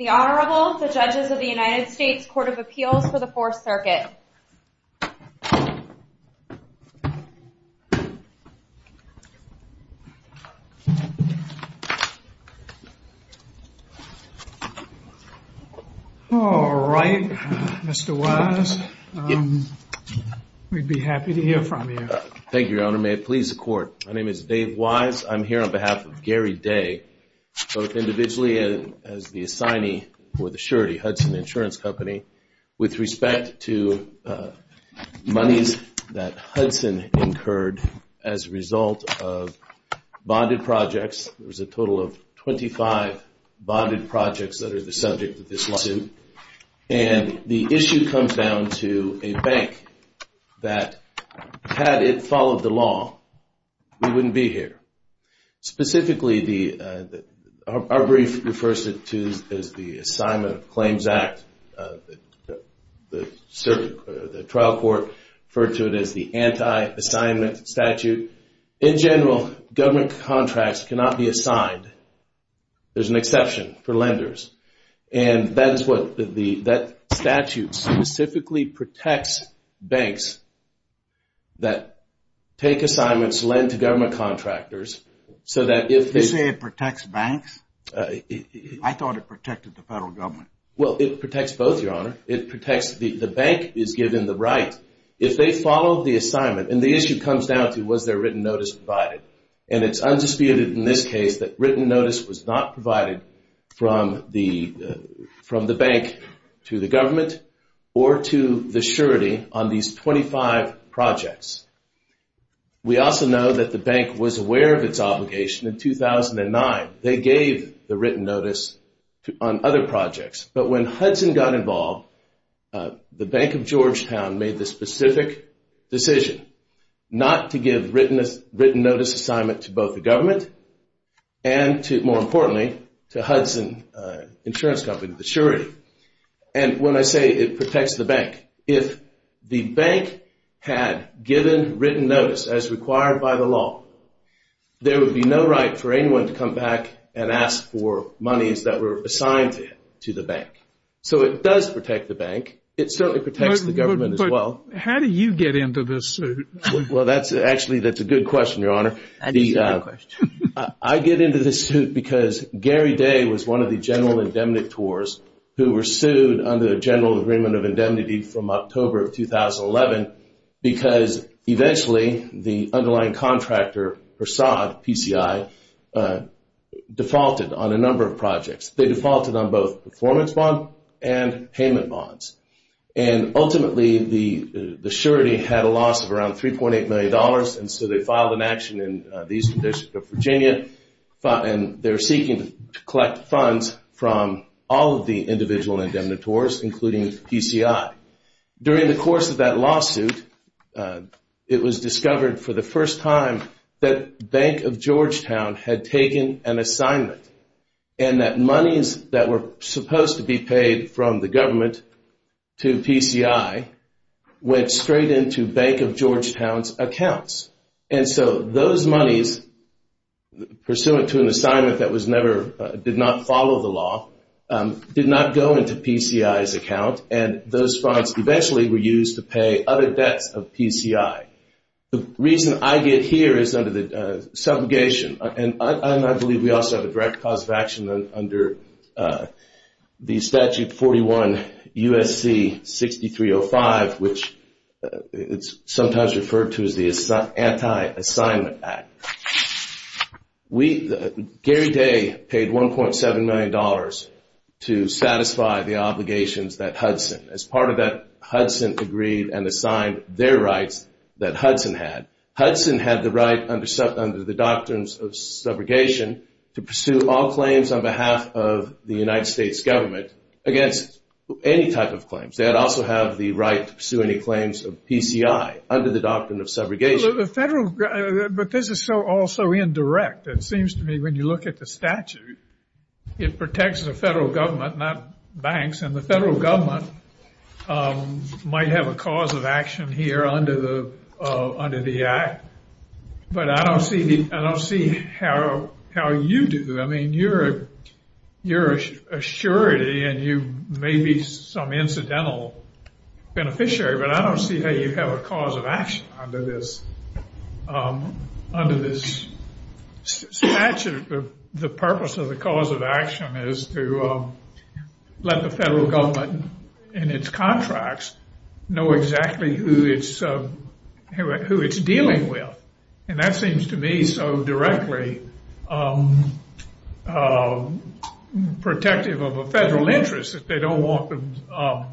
The Honorable, the Judges of the United States Court of Appeals for the Fourth Circuit. All right, Mr. Wise. We'd be happy to hear from you. Thank you, Your Honor. May it please the Court. My name is Dave Wise. I'm here on behalf of Gary Day, both individually as the assignee for the surety, Hudson Insurance Company, with respect to monies that Hudson incurred as a result of bonded projects. There was a total of 25 bonded projects that are the subject of this lawsuit. And the issue comes down to a bank that had it followed the law, we wouldn't be here. Specifically, our brief refers to it as the Assignment of Claims Act. The trial court referred to it as the anti-assignment statute. In general, government contracts cannot be assigned. There's an exception for lenders. And that statute specifically protects banks that take assignments, lend to government contractors. You say it protects banks? I thought it protected the federal government. Well, it protects both, Your Honor. The bank is given the right. If they follow the assignment, and the issue comes down to was there written notice provided. And it's undisputed in this case that written notice was not provided from the bank to the government or to the surety on these 25 projects. We also know that the bank was aware of its obligation in 2009. They gave the written notice on other projects. But when Hudson got involved, the Bank of Georgetown made the specific decision not to give written notice assignment to both the government and to, more importantly, to Hudson Insurance Company, the surety. And when I say it protects the bank, if the bank had given written notice as required by the law, there would be no right for anyone to come back and ask for monies that were assigned to the bank. So it does protect the bank. It certainly protects the government as well. Well, how do you get into this suit? Well, actually, that's a good question, Your Honor. That is a good question. I get into this suit because Gary Day was one of the general indemnitors who were sued under the General Agreement of Indemnity from October of 2011 because eventually the underlying contractor, Persaud PCI, defaulted on a number of projects. They defaulted on both performance bond and payment bonds. And ultimately, the surety had a loss of around $3.8 million, and so they filed an action in the Eastern District of Virginia, and they're seeking to collect funds from all of the individual indemnitors, including PCI. During the course of that lawsuit, it was discovered for the first time that Bank of Georgetown had taken an assignment and that monies that were supposed to be paid from the government to PCI went straight into Bank of Georgetown's accounts. And so those monies, pursuant to an assignment that did not follow the law, did not go into PCI's account, and those funds eventually were used to pay other debts of PCI. The reason I get here is under the subrogation, and I believe we also have a direct cause of action under the Statute 41 U.S.C. 6305, which is sometimes referred to as the Anti-Assignment Act. Gary Day paid $1.7 million to satisfy the obligations that Hudson, as part of that Hudson agreed and assigned their rights that Hudson had. Hudson had the right under the doctrines of subrogation to pursue all claims on behalf of the United States government against any type of claims. They would also have the right to pursue any claims of PCI under the doctrine of subrogation. But this is all so indirect. It seems to me when you look at the statute, it protects the federal government, not banks, and the federal government might have a cause of action here under the act. But I don't see how you do. I mean, you're a surety and you may be some incidental beneficiary, but I don't see how you have a cause of action under this statute if the purpose of the cause of action is to let the federal government and its contracts know exactly who it's dealing with. And that seems to me so directly protective of a federal interest that they don't want the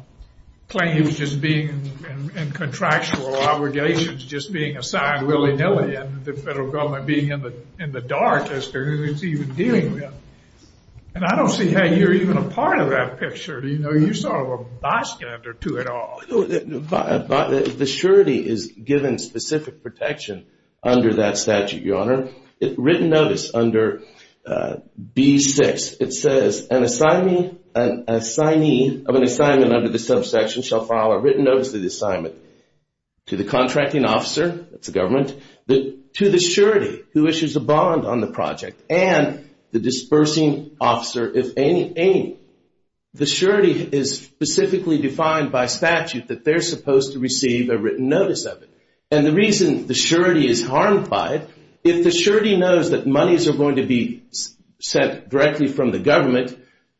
claims just being in contractual obligations just being assigned willy-nilly and the federal government being in the dark as to who it's even dealing with. And I don't see how you're even a part of that picture. You're sort of a bystander to it all. The surety is given specific protection under that statute, Your Honor. Written notice under B-6, it says, an assignee of an assignment under the subsection shall file a written notice of the assignment to the contracting officer, that's the government, to the surety who issues a bond on the project and the dispersing officer if any. The surety is specifically defined by statute that they're supposed to receive a written notice of it. And the reason the surety is harmed by it, if the surety knows that monies are going to be sent directly from the government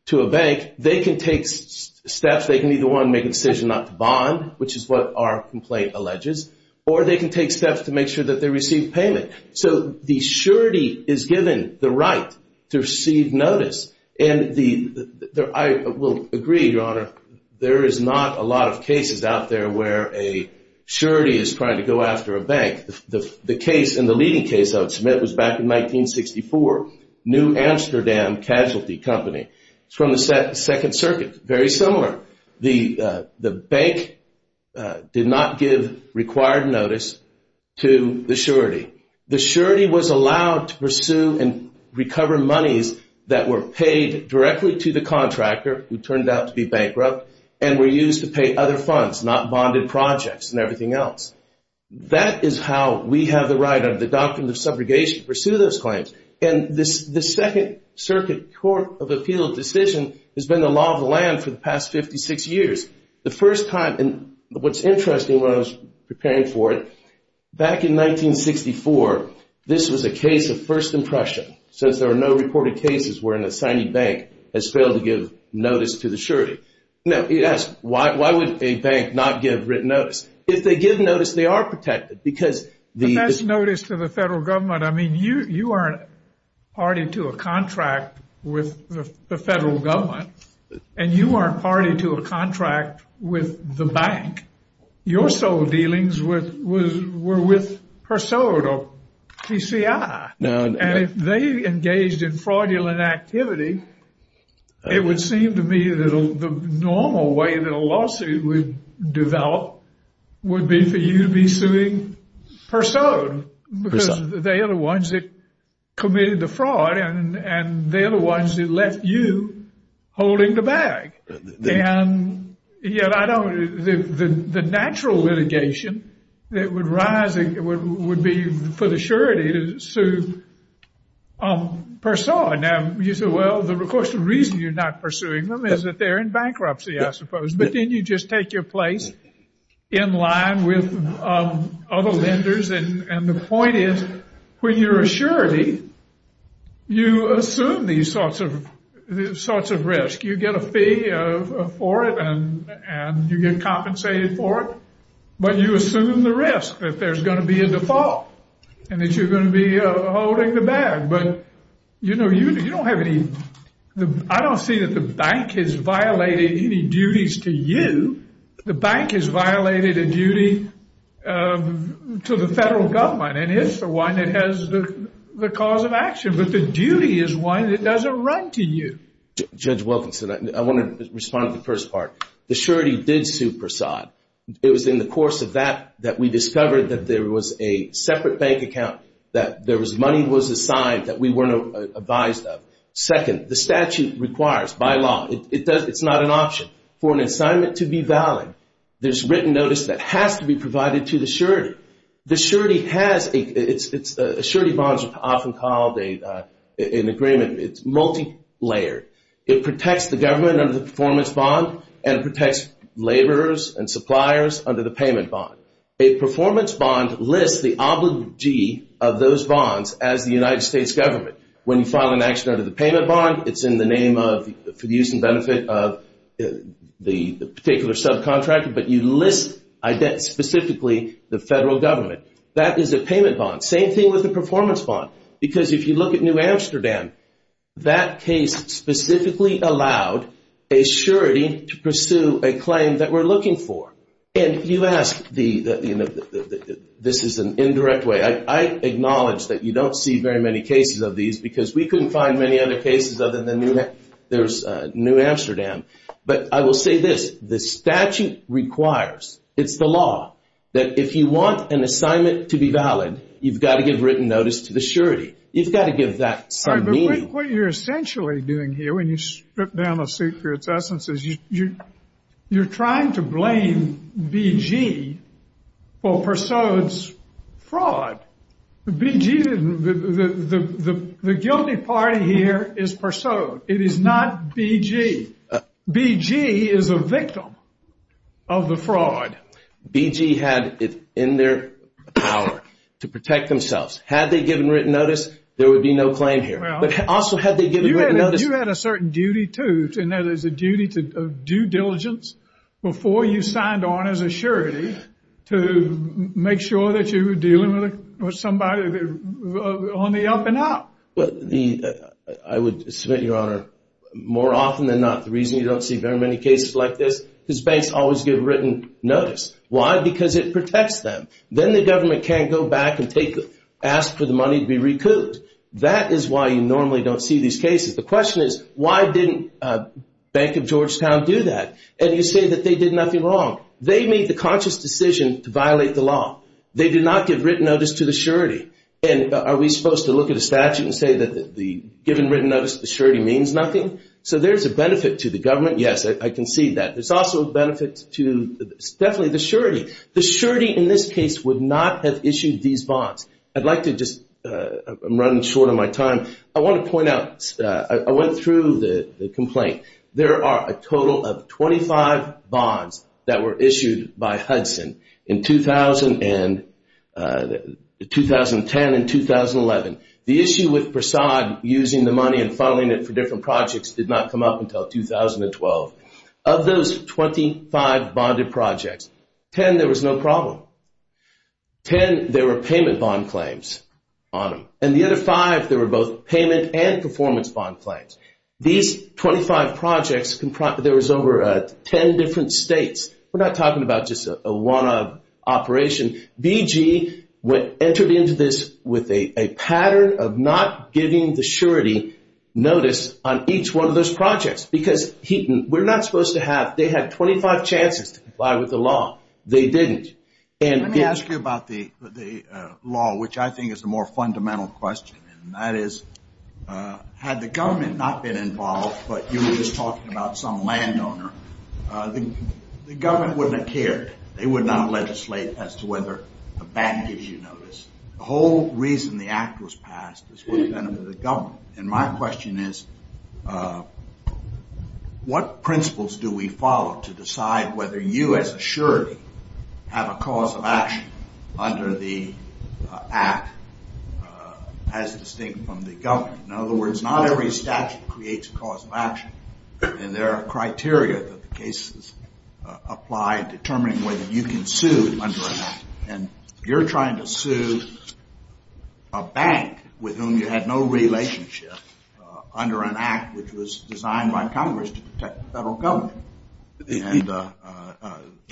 to a bank, they can take steps. They can either, one, make a decision not to bond, which is what our complaint alleges, or they can take steps to make sure that they receive payment. So the surety is given the right to receive notice. And I will agree, Your Honor, there is not a lot of cases out there where a surety is trying to go after a bank. The case and the leading case I would submit was back in 1964, New Amsterdam Casualty Company. It's from the Second Circuit, very similar. The bank did not give required notice to the surety. The surety was allowed to pursue and recover monies that were paid directly to the contractor, who turned out to be bankrupt, and were used to pay other funds, not bonded projects and everything else. That is how we have the right under the Doctrine of Subrogation to pursue those claims. And the Second Circuit Court of Appeal decision has been the law of the land for the past 56 years. The first time, and what's interesting when I was preparing for it, back in 1964, this was a case of first impression, since there are no reported cases where an assignee bank has failed to give notice to the surety. Now, you ask, why would a bank not give written notice? If they give notice, they are protected. And that's notice to the federal government. I mean, you aren't party to a contract with the federal government, and you aren't party to a contract with the bank. Your sole dealings were with Persaud or PCI. And if they engaged in fraudulent activity, it would seem to me that the normal way that a lawsuit would develop would be for you to be suing Persaud. Because they are the ones that committed the fraud, and they are the ones that left you holding the bag. And yet, I don't, the natural litigation that would rise would be for the surety to sue Persaud. Now, you say, well, of course, the reason you're not pursuing them is that they're in bankruptcy, I suppose. But then you just take your place in line with other lenders. And the point is, when you're a surety, you assume these sorts of risks. You get a fee for it, and you get compensated for it. But you assume the risk that there's going to be a default and that you're going to be holding the bag. But, you know, you don't have any, I don't see that the bank has violated any duties to you. The bank has violated a duty to the federal government. And it's the one that has the cause of action. But the duty is one that doesn't run to you. Judge Wilkinson, I want to respond to the first part. The surety did sue Persaud. It was in the course of that that we discovered that there was a separate bank account, that money was assigned that we weren't advised of. Second, the statute requires, by law, it's not an option, for an assignment to be valid. There's written notice that has to be provided to the surety. The surety has a, surety bonds are often called an agreement. It's multi-layered. It protects the government under the performance bond, and it protects laborers and suppliers under the payment bond. A performance bond lists the obligee of those bonds as the United States government. When you file an action under the payment bond, it's in the name of the use and benefit of the particular subcontractor, but you list specifically the federal government. That is a payment bond. Same thing with the performance bond. Because if you look at New Amsterdam, that case specifically allowed a surety to pursue a claim that we're looking for. And you ask, this is an indirect way. I acknowledge that you don't see very many cases of these because we couldn't find many other cases other than New Amsterdam. But I will say this, the statute requires, it's the law, that if you want an assignment to be valid, you've got to give written notice to the surety. You've got to give that some meaning. All right, but what you're essentially doing here when you strip down a suit for its essence is you're trying to blame BG for Persaud's fraud. The guilty party here is Persaud. It is not BG. BG is a victim of the fraud. BG had it in their power to protect themselves. Had they given written notice, there would be no claim here. You had a certain duty too, and that is a duty of due diligence before you signed on as a surety to make sure that you were dealing with somebody on the up and up. I would submit, Your Honor, more often than not, the reason you don't see very many cases like this is banks always give written notice. Why? Because it protects them. Then the government can't go back and ask for the money to be recouped. That is why you normally don't see these cases. The question is, why didn't Bank of Georgetown do that? And you say that they did nothing wrong. They made the conscious decision to violate the law. They did not give written notice to the surety. And are we supposed to look at a statute and say that giving written notice to the surety means nothing? So there's a benefit to the government. Yes, I can see that. There's also a benefit to definitely the surety. The surety in this case would not have issued these bonds. I'd like to just, I'm running short on my time. I want to point out, I went through the complaint. There are a total of 25 bonds that were issued by Hudson in 2010 and 2011. The issue with Persaud using the money and filing it for different projects did not come up until 2012. Of those 25 bonded projects, 10 there was no problem. Ten, there were payment bond claims on them. And the other five, there were both payment and performance bond claims. These 25 projects, there was over 10 different states. We're not talking about just a one-off operation. BG entered into this with a pattern of not giving the surety notice on each one of those projects because we're not supposed to have, they had 25 chances to comply with the law. They didn't. Let me ask you about the law, which I think is the more fundamental question, and that is had the government not been involved, but you were just talking about some landowner, the government wouldn't have cared. They would not legislate as to whether a ban gives you notice. The whole reason the act was passed is for the benefit of the government. And my question is what principles do we follow to decide whether you as a surety have a cause of action under the act as distinct from the government? In other words, not every statute creates a cause of action, and there are criteria that the cases apply determining whether you can sue under an act. And you're trying to sue a bank with whom you had no relationship under an act which was designed by Congress to protect the federal government. And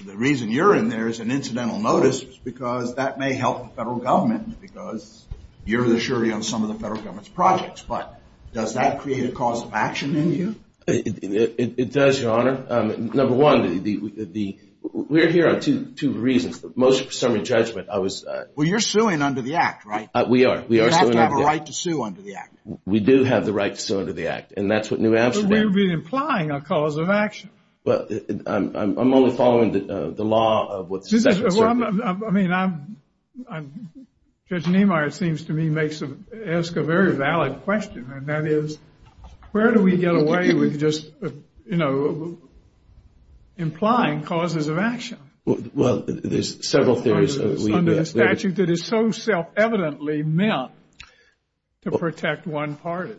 the reason you're in there is an incidental notice because that may help the federal government because you're the surety on some of the federal government's projects. But does that create a cause of action in you? It does, Your Honor. Number one, we're here on two reasons. The most presuming judgment, I was... Well, you're suing under the act, right? We are. We are suing under the act. You have to have a right to sue under the act. We do have the right to sue under the act, and that's what New Amsterdam... But you'll be implying a cause of action. Well, I'm only following the law of what the statute says. Well, I mean, Judge Niemeyer, it seems to me, asks a very valid question, and that is where do we get away with just, you know, implying causes of action? Well, there's several theories. Under the statute that is so self-evidently meant to protect one party.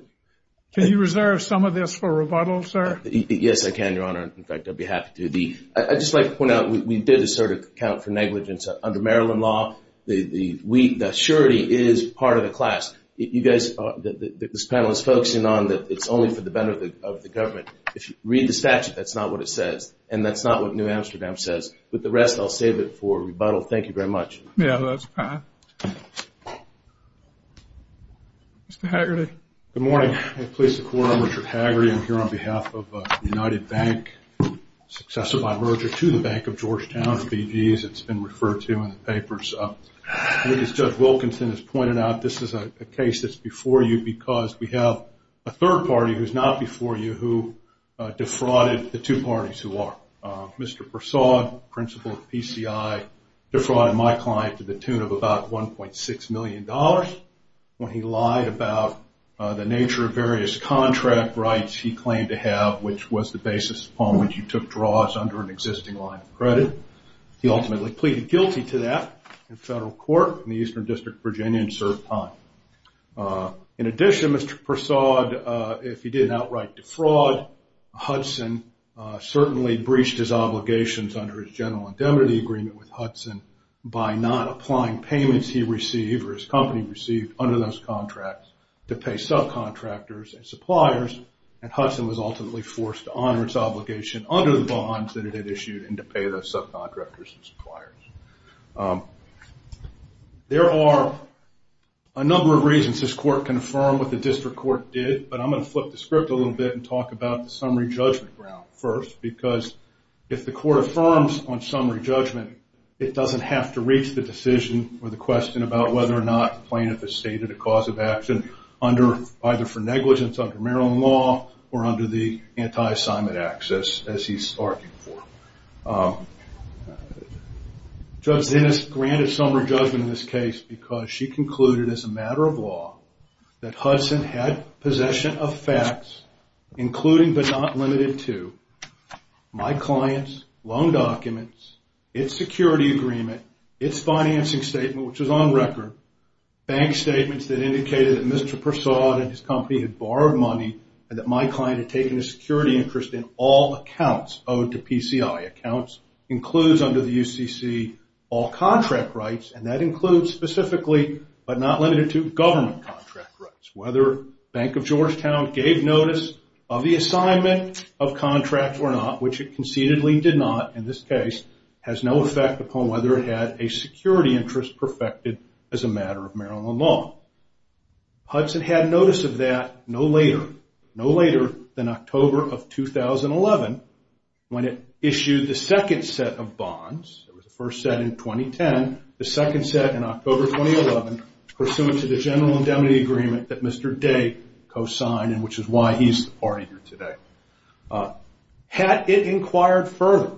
Can you reserve some of this for rebuttal, sir? Yes, I can, Your Honor. In fact, I'd be happy to. I'd just like to point out, we did assert account for negligence under Maryland law. The surety is part of the class. You guys, this panel is focusing on that it's only for the benefit of the government. If you read the statute, that's not what it says, and that's not what New Amsterdam says. With the rest, I'll save it for rebuttal. Thank you very much. Yeah, that's fine. Mr. Haggerty. Good morning. Police Department. I'm Richard Haggerty. I'm here on behalf of the United Bank, successor by merger to the Bank of Georgetown, BG's. It's been referred to in the papers. As Judge Wilkinson has pointed out, this is a case that's before you because we have a third party who's not before you who defrauded the two parties who are. Mr. Persaud, principal of PCI, defrauded my client to the tune of about $1.6 million. When he lied about the nature of various contract rights he claimed to have, which was the basis upon which you took draws under an existing line of credit. He ultimately pleaded guilty to that in federal court in the Eastern District of Virginia and served time. In addition, Mr. Persaud, if he didn't outright defraud, Hudson certainly breached his obligations under his general indemnity agreement with Hudson by not applying payments he received or his company received under those contracts to pay subcontractors and suppliers, and Hudson was ultimately forced to honor its obligation under the bonds that it had issued and to pay those subcontractors and suppliers. There are a number of reasons this court can affirm what the district court did, but I'm going to flip the script a little bit and talk about the summary judgment ground first because if the court affirms on summary judgment, it doesn't have to reach the decision or the question about whether or not the plaintiff has stated a cause of action either for negligence under Maryland law or under the anti-assignment access as he's arguing for. Judge Zinnis granted summary judgment in this case because she concluded as a matter of law that Hudson had possession of facts including but not limited to my client's loan documents, its security agreement, its financing statement, which was on record, bank statements that indicated that Mr. Persaud and his company had borrowed money and that my client had taken a security interest in all accounts owed to PCI. Accounts includes under the UCC all contract rights and that includes specifically but not limited to government contract rights. Whether Bank of Georgetown gave notice of the assignment of contracts or not, which it concededly did not in this case, has no effect upon whether it had a security interest perfected as a matter of Maryland law. Hudson had notice of that no later, no later than October of 2011 when it issued the second set of bonds. It was the first set in 2010, the second set in October 2011, pursuant to the general indemnity agreement that Mr. Day co-signed and which is why he's the party here today. Had it inquired further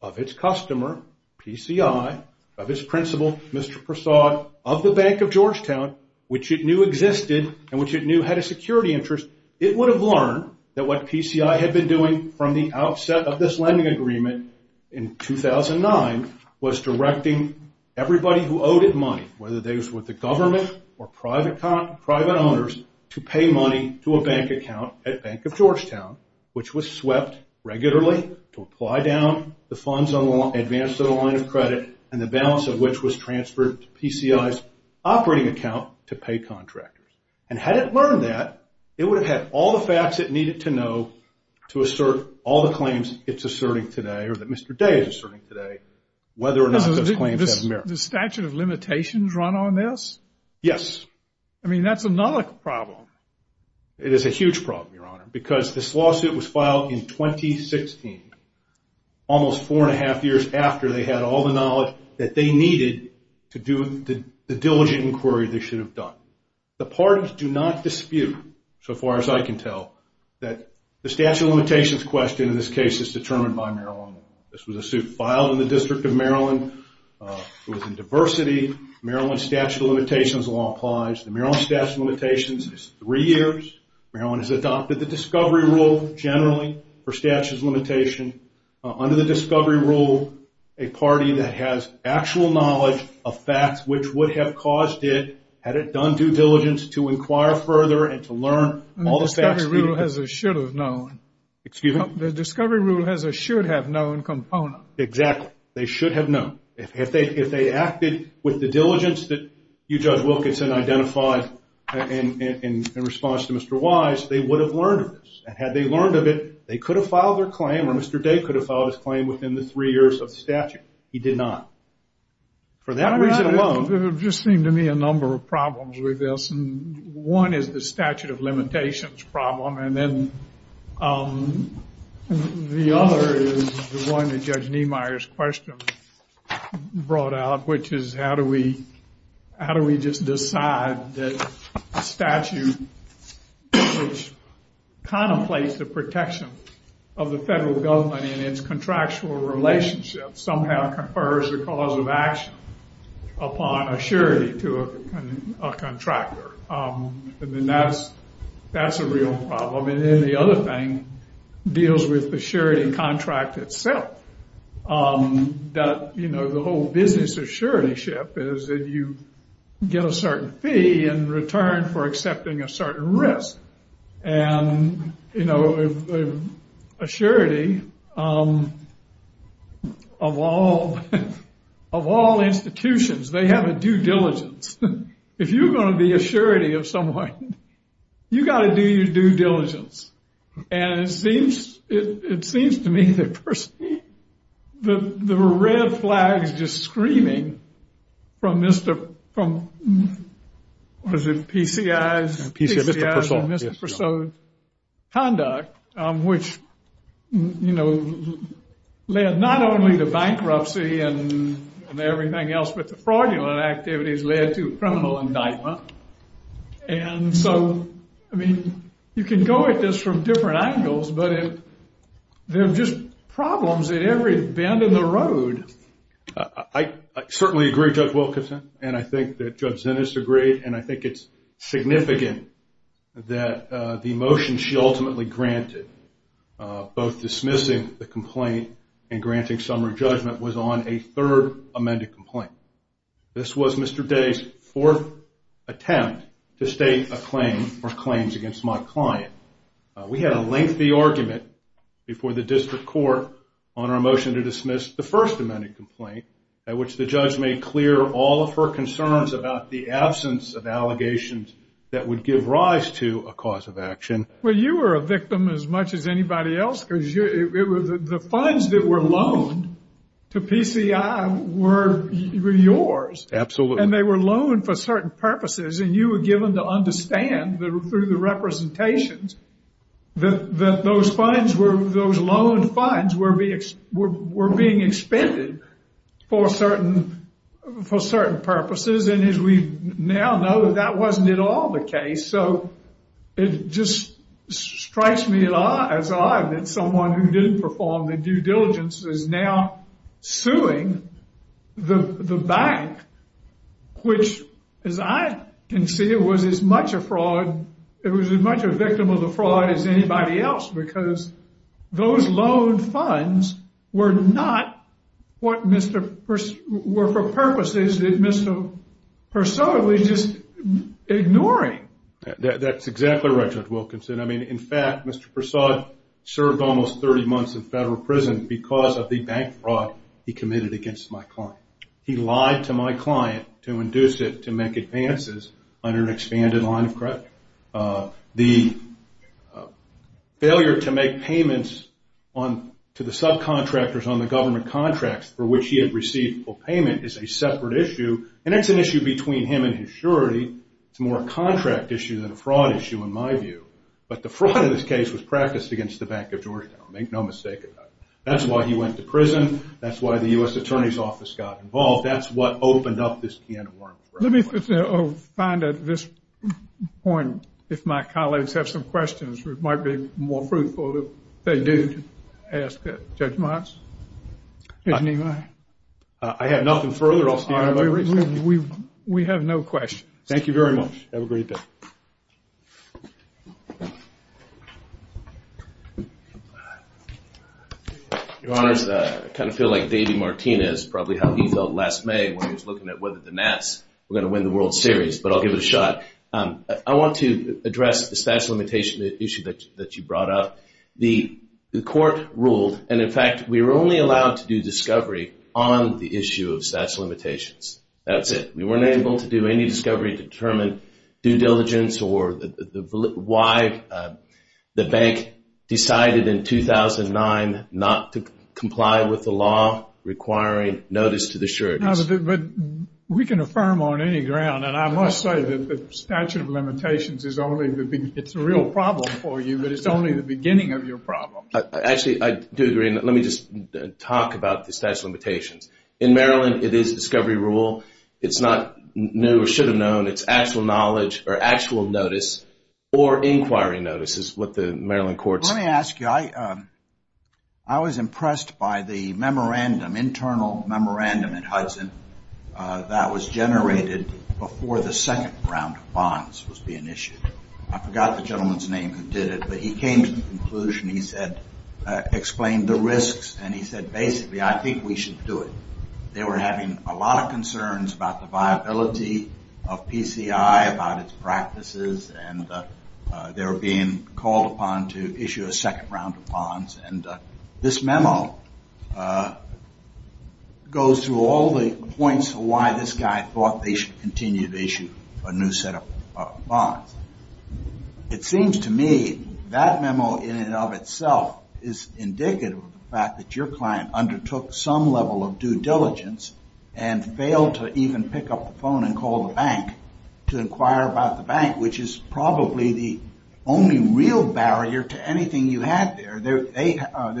of its customer, PCI, of its principal, Mr. Persaud, of the Bank of Georgetown, which it knew existed and which it knew had a security interest, it would have learned that what PCI had been doing from the outset of this lending agreement in 2009 was directing everybody who owed it money, whether they was with the government or private owners, to pay money to a bank account at Bank of Georgetown, which was swept regularly to apply down the funds advanced to the line of credit and the balance of which was transferred to PCI's operating account to pay contractors. And had it learned that, it would have had all the facts it needed to know to assert all the claims it's asserting today or that Mr. Day is asserting today, whether or not those claims have merit. The statute of limitations run on this? Yes. I mean, that's another problem. It is a huge problem, Your Honor, because this lawsuit was filed in 2016, almost four and a half years after they had all the knowledge that they needed to do the diligent inquiry they should have done. The parties do not dispute, so far as I can tell, that the statute of limitations question in this case is determined by Maryland. This was a suit filed in the District of Maryland. It was in diversity. Maryland's statute of limitations law applies. The Maryland statute of limitations is three years. Maryland has adopted the discovery rule generally for statute of limitations. Under the discovery rule, a party that has actual knowledge of facts, which would have caused it, had it done due diligence to inquire further and to learn all the facts needed. The discovery rule has a should have known component. Exactly. They should have known. If they acted with the diligence that you, Judge Wilkinson, identified in response to Mr. Wise, they would have learned of this. Had they learned of it, they could have filed their claim or Mr. Day could have filed his claim within the three years of the statute. He did not. For that reason alone. There just seem to me a number of problems with this. One is the statute of limitations problem, and then the other is the one that Judge Niemeyer's question brought out, which is how do we just decide that a statute which contemplates the protection of the federal government in its contractual relationship somehow confers the cause of action upon a surety to a contractor. That's a real problem. Then the other thing deals with the surety contract itself. The whole business of suretyship is that you get a certain fee in return for accepting a certain risk. And, you know, a surety of all institutions, they have a due diligence. If you're going to be a surety of someone, you've got to do your due diligence. And it seems to me that the red flags just screaming from Mr. From PCI's conduct, which, you know, led not only to bankruptcy and everything else, but the fraudulent activities led to criminal indictment. And so, I mean, you can go at this from different angles, but there are just problems at every bend in the road. I certainly agree, Judge Wilkinson, and I think that Judge Zinus agreed, and I think it's significant that the motion she ultimately granted, both dismissing the complaint and granting summary judgment, was on a third amended complaint. This was Mr. Day's fourth attempt to state a claim or claims against my client. We had a lengthy argument before the district court on our motion to dismiss the first amended complaint, at which the judge made clear all of her concerns about the absence of allegations that would give rise to a cause of action. Well, you were a victim as much as anybody else, because the funds that were loaned to PCI were yours. Absolutely. And they were loaned for certain purposes, and you were given to understand through the representations that those loans were being expended for certain purposes. And as we now know, that wasn't at all the case. So it just strikes me as odd that someone who didn't perform the due diligence is now suing the bank, which, as I can see, was as much a victim of the fraud as anybody else, because those loan funds were for purposes that Mr. Persaud was just ignoring. That's exactly right, Judge Wilkinson. I mean, in fact, Mr. Persaud served almost 30 months in federal prison because of the bank fraud he committed against my client. He lied to my client to induce it to make advances under an expanded line of credit. The failure to make payments to the subcontractors on the government contracts for which he had received full payment is a separate issue, and it's an issue between him and his surety. It's more a contract issue than a fraud issue, in my view. But the fraud in this case was practiced against the Bank of Georgetown. That's why he went to prison. That's why the U.S. Attorney's Office got involved. That's what opened up this can of worms for everybody. Let me find at this point, if my colleagues have some questions, it might be more fruitful if they do ask Judge Motz. I have nothing further. We have no questions. Thank you very much. Have a great day. Your Honors, I kind of feel like Davey Martinez, probably how he felt last May when he was looking at whether the Nats were going to win the World Series, but I'll give it a shot. I want to address the statute of limitations issue that you brought up. The court ruled, and in fact, we were only allowed to do discovery on the issue of statute of limitations. That's it. We weren't able to do any discovery to determine due diligence or why the bank decided in 2009 not to comply with the law requiring notice to the surety. But we can affirm on any ground, and I must say that the statute of limitations is only the beginning. It's a real problem for you, but it's only the beginning of your problem. Actually, I do agree. Let me just talk about the statute of limitations. In Maryland, it is a discovery rule. It's not new or should have known. It's actual knowledge or actual notice or inquiry notice is what the Maryland courts. Let me ask you, I was impressed by the memorandum, internal memorandum at Hudson that was generated before the second round of bonds was being issued. I forgot the gentleman's name who did it, but he came to the conclusion. He explained the risks, and he said, basically, I think we should do it. They were having a lot of concerns about the viability of PCI, about its practices, and they were being called upon to issue a second round of bonds. This memo goes through all the points of why this guy thought they should continue to issue a new set of bonds. It seems to me that memo in and of itself is indicative of the fact that the gentleman undertook some level of due diligence and failed to even pick up the phone and call the bank to inquire about the bank, which is probably the only real barrier to anything you had there. There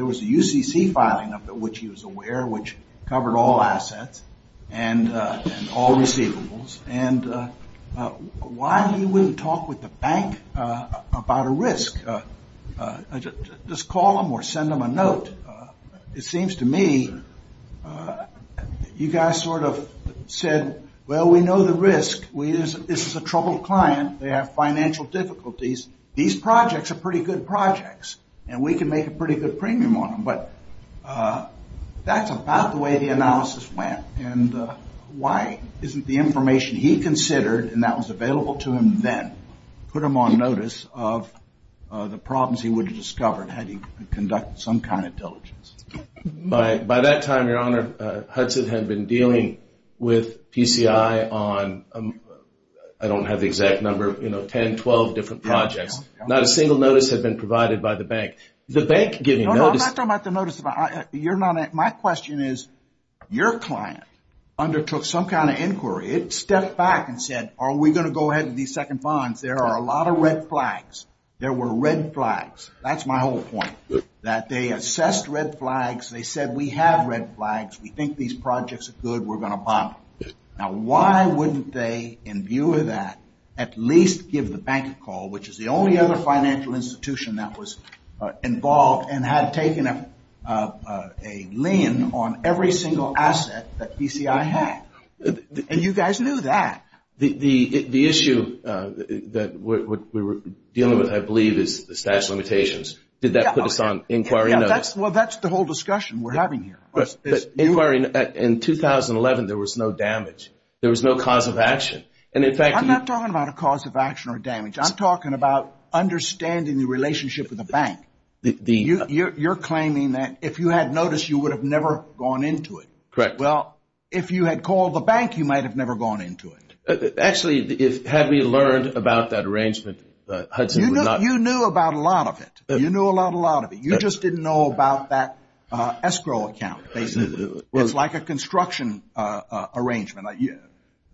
was a UCC filing of it, which he was aware, which covered all assets and all receivables. Why he wouldn't talk with the bank about a risk? Just call them or send them a note. It seems to me you guys sort of said, well, we know the risk. This is a troubled client. They have financial difficulties. These projects are pretty good projects, and we can make a pretty good premium on them, but that's about the way the analysis went, and why isn't the information he considered, and that was available to him then, put him on notice of the problems he would have discovered had he conducted some kind of diligence. By that time, Your Honor, Hudson had been dealing with PCI on, I don't have the exact number, you know, 10, 12 different projects. Not a single notice had been provided by the bank. No, I'm not talking about the notice. My question is your client undertook some kind of inquiry. It stepped back and said, are we going to go ahead with these second funds? There are a lot of red flags. There were red flags. That's my whole point, that they assessed red flags. They said, we have red flags. We think these projects are good. We're going to buy them. Now, why wouldn't they, in view of that, at least give the bank a call, which is the only other financial institution that was involved and had taken a lien on every single asset that PCI had? And you guys knew that. The issue that we were dealing with, I believe, is the statute of limitations. Did that put us on inquiry notice? Well, that's the whole discussion we're having here. In 2011, there was no damage. There was no cause of action. I'm not talking about a cause of action or damage. I'm talking about understanding the relationship with the bank. You're claiming that if you had notice, you would have never gone into it. Correct. Well, if you had called the bank, you might have never gone into it. Actually, had we learned about that arrangement, Hudson would not have. You knew about a lot of it. You knew about a lot of it. You just didn't know about that escrow account, basically. It's like a construction arrangement.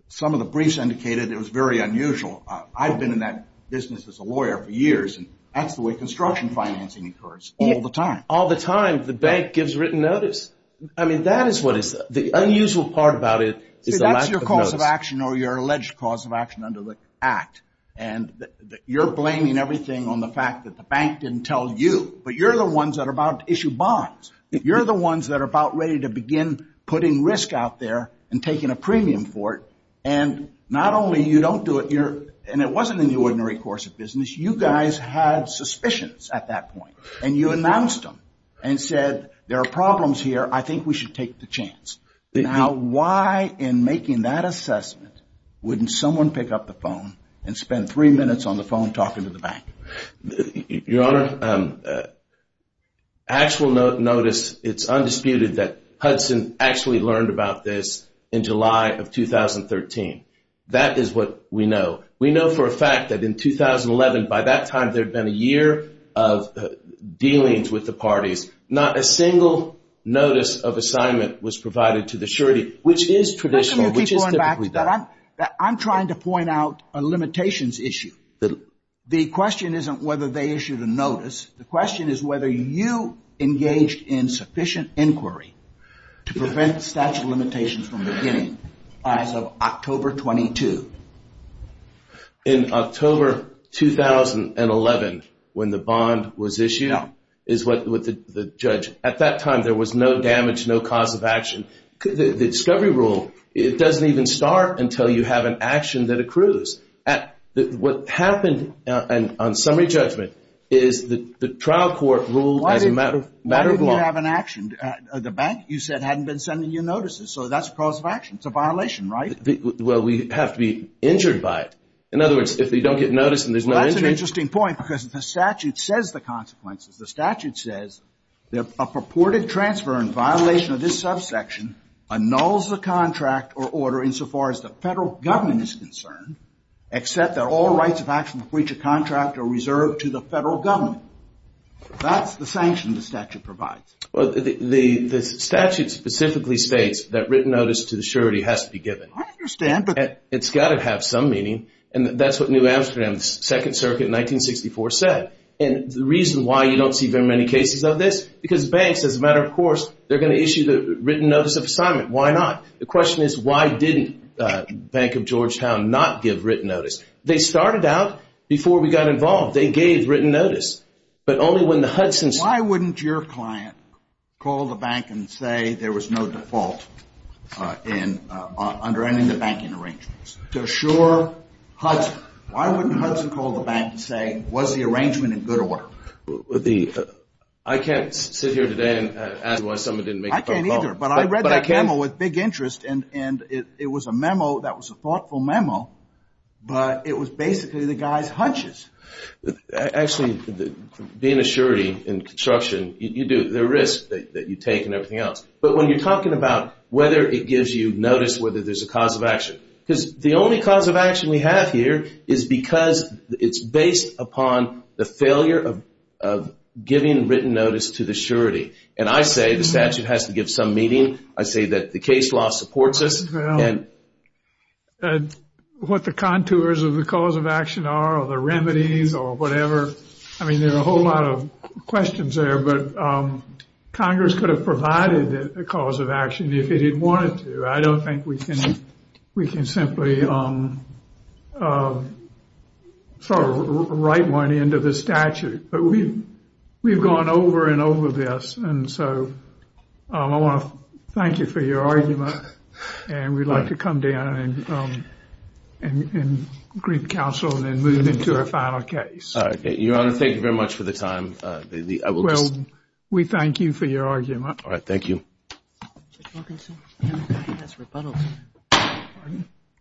Some of the briefs indicated it was very unusual. I've been in that business as a lawyer for years, and that's the way construction financing occurs all the time. All the time, the bank gives written notice. I mean, that is what is the unusual part about it is the lack of notice. See, that's your cause of action or your alleged cause of action under the Act. And you're blaming everything on the fact that the bank didn't tell you, but you're the ones that are about to issue bonds. You're the ones that are about ready to begin putting risk out there and taking a premium for it. And not only you don't do it, and it wasn't in the ordinary course of business, you guys had suspicions at that point, and you announced them and said there are problems here. I think we should take the chance. Now, why in making that assessment wouldn't someone pick up the phone and spend three minutes on the phone talking to the bank? Your Honor, actual notice, it's undisputed that Hudson actually learned about this in July of 2013. That is what we know. We know for a fact that in 2011, by that time, there had been a year of dealings with the parties. Not a single notice of assignment was provided to the surety, which is traditional. How come you keep going back to that? I'm trying to point out a limitations issue. The question isn't whether they issued a notice. The question is whether you engaged in sufficient inquiry to prevent statute of limitations from beginning as of October 22. In October 2011, when the bond was issued, is what the judge, at that time there was no damage, no cause of action. The discovery rule, it doesn't even start until you have an action that accrues. What happened on summary judgment is the trial court ruled as a matter of law. Why didn't you have an action? The bank, you said, hadn't been sending you notices, so that's a cause of action. It's a violation, right? Well, we have to be injured by it. In other words, if they don't get notice and there's no injury— That's an interesting point because the statute says the consequences. The statute says a purported transfer in violation of this subsection annuls the contract or order insofar as the federal government is concerned, except that all rights of action to breach a contract are reserved to the federal government. That's the sanction the statute provides. The statute specifically states that written notice to the surety has to be given. I understand, but— It's got to have some meaning, and that's what New Amsterdam's Second Circuit in 1964 said. And the reason why you don't see very many cases of this, because banks, as a matter of course, they're going to issue the written notice of assignment. Why not? The question is, why didn't Bank of Georgetown not give written notice? They started out before we got involved. They gave written notice, but only when the Hudson's— Why wouldn't your client call the bank and say there was no default under any of the banking arrangements? To assure Hudson, why wouldn't Hudson call the bank and say, was the arrangement in good order? I can't sit here today and ask you why someone didn't make the first call. I can't either, but I read that memo with big interest, and it was a memo that was a thoughtful memo, but it was basically the guy's hunches. Actually, being a surety in construction, there are risks that you take and everything else. But when you're talking about whether it gives you notice, whether there's a cause of action, because the only cause of action we have here is because it's based upon the failure of giving written notice to the surety. And I say the statute has to give some meaning. I say that the case law supports us. What the contours of the cause of action are or the remedies or whatever. I mean, there are a whole lot of questions there, but Congress could have provided a cause of action if it wanted to. I don't think we can simply write one into the statute. But we've gone over and over this. And so I want to thank you for your argument. And we'd like to come down and greet counsel and move into a final case. Your Honor, thank you very much for the time. Well, we thank you for your argument. All right. Thank you.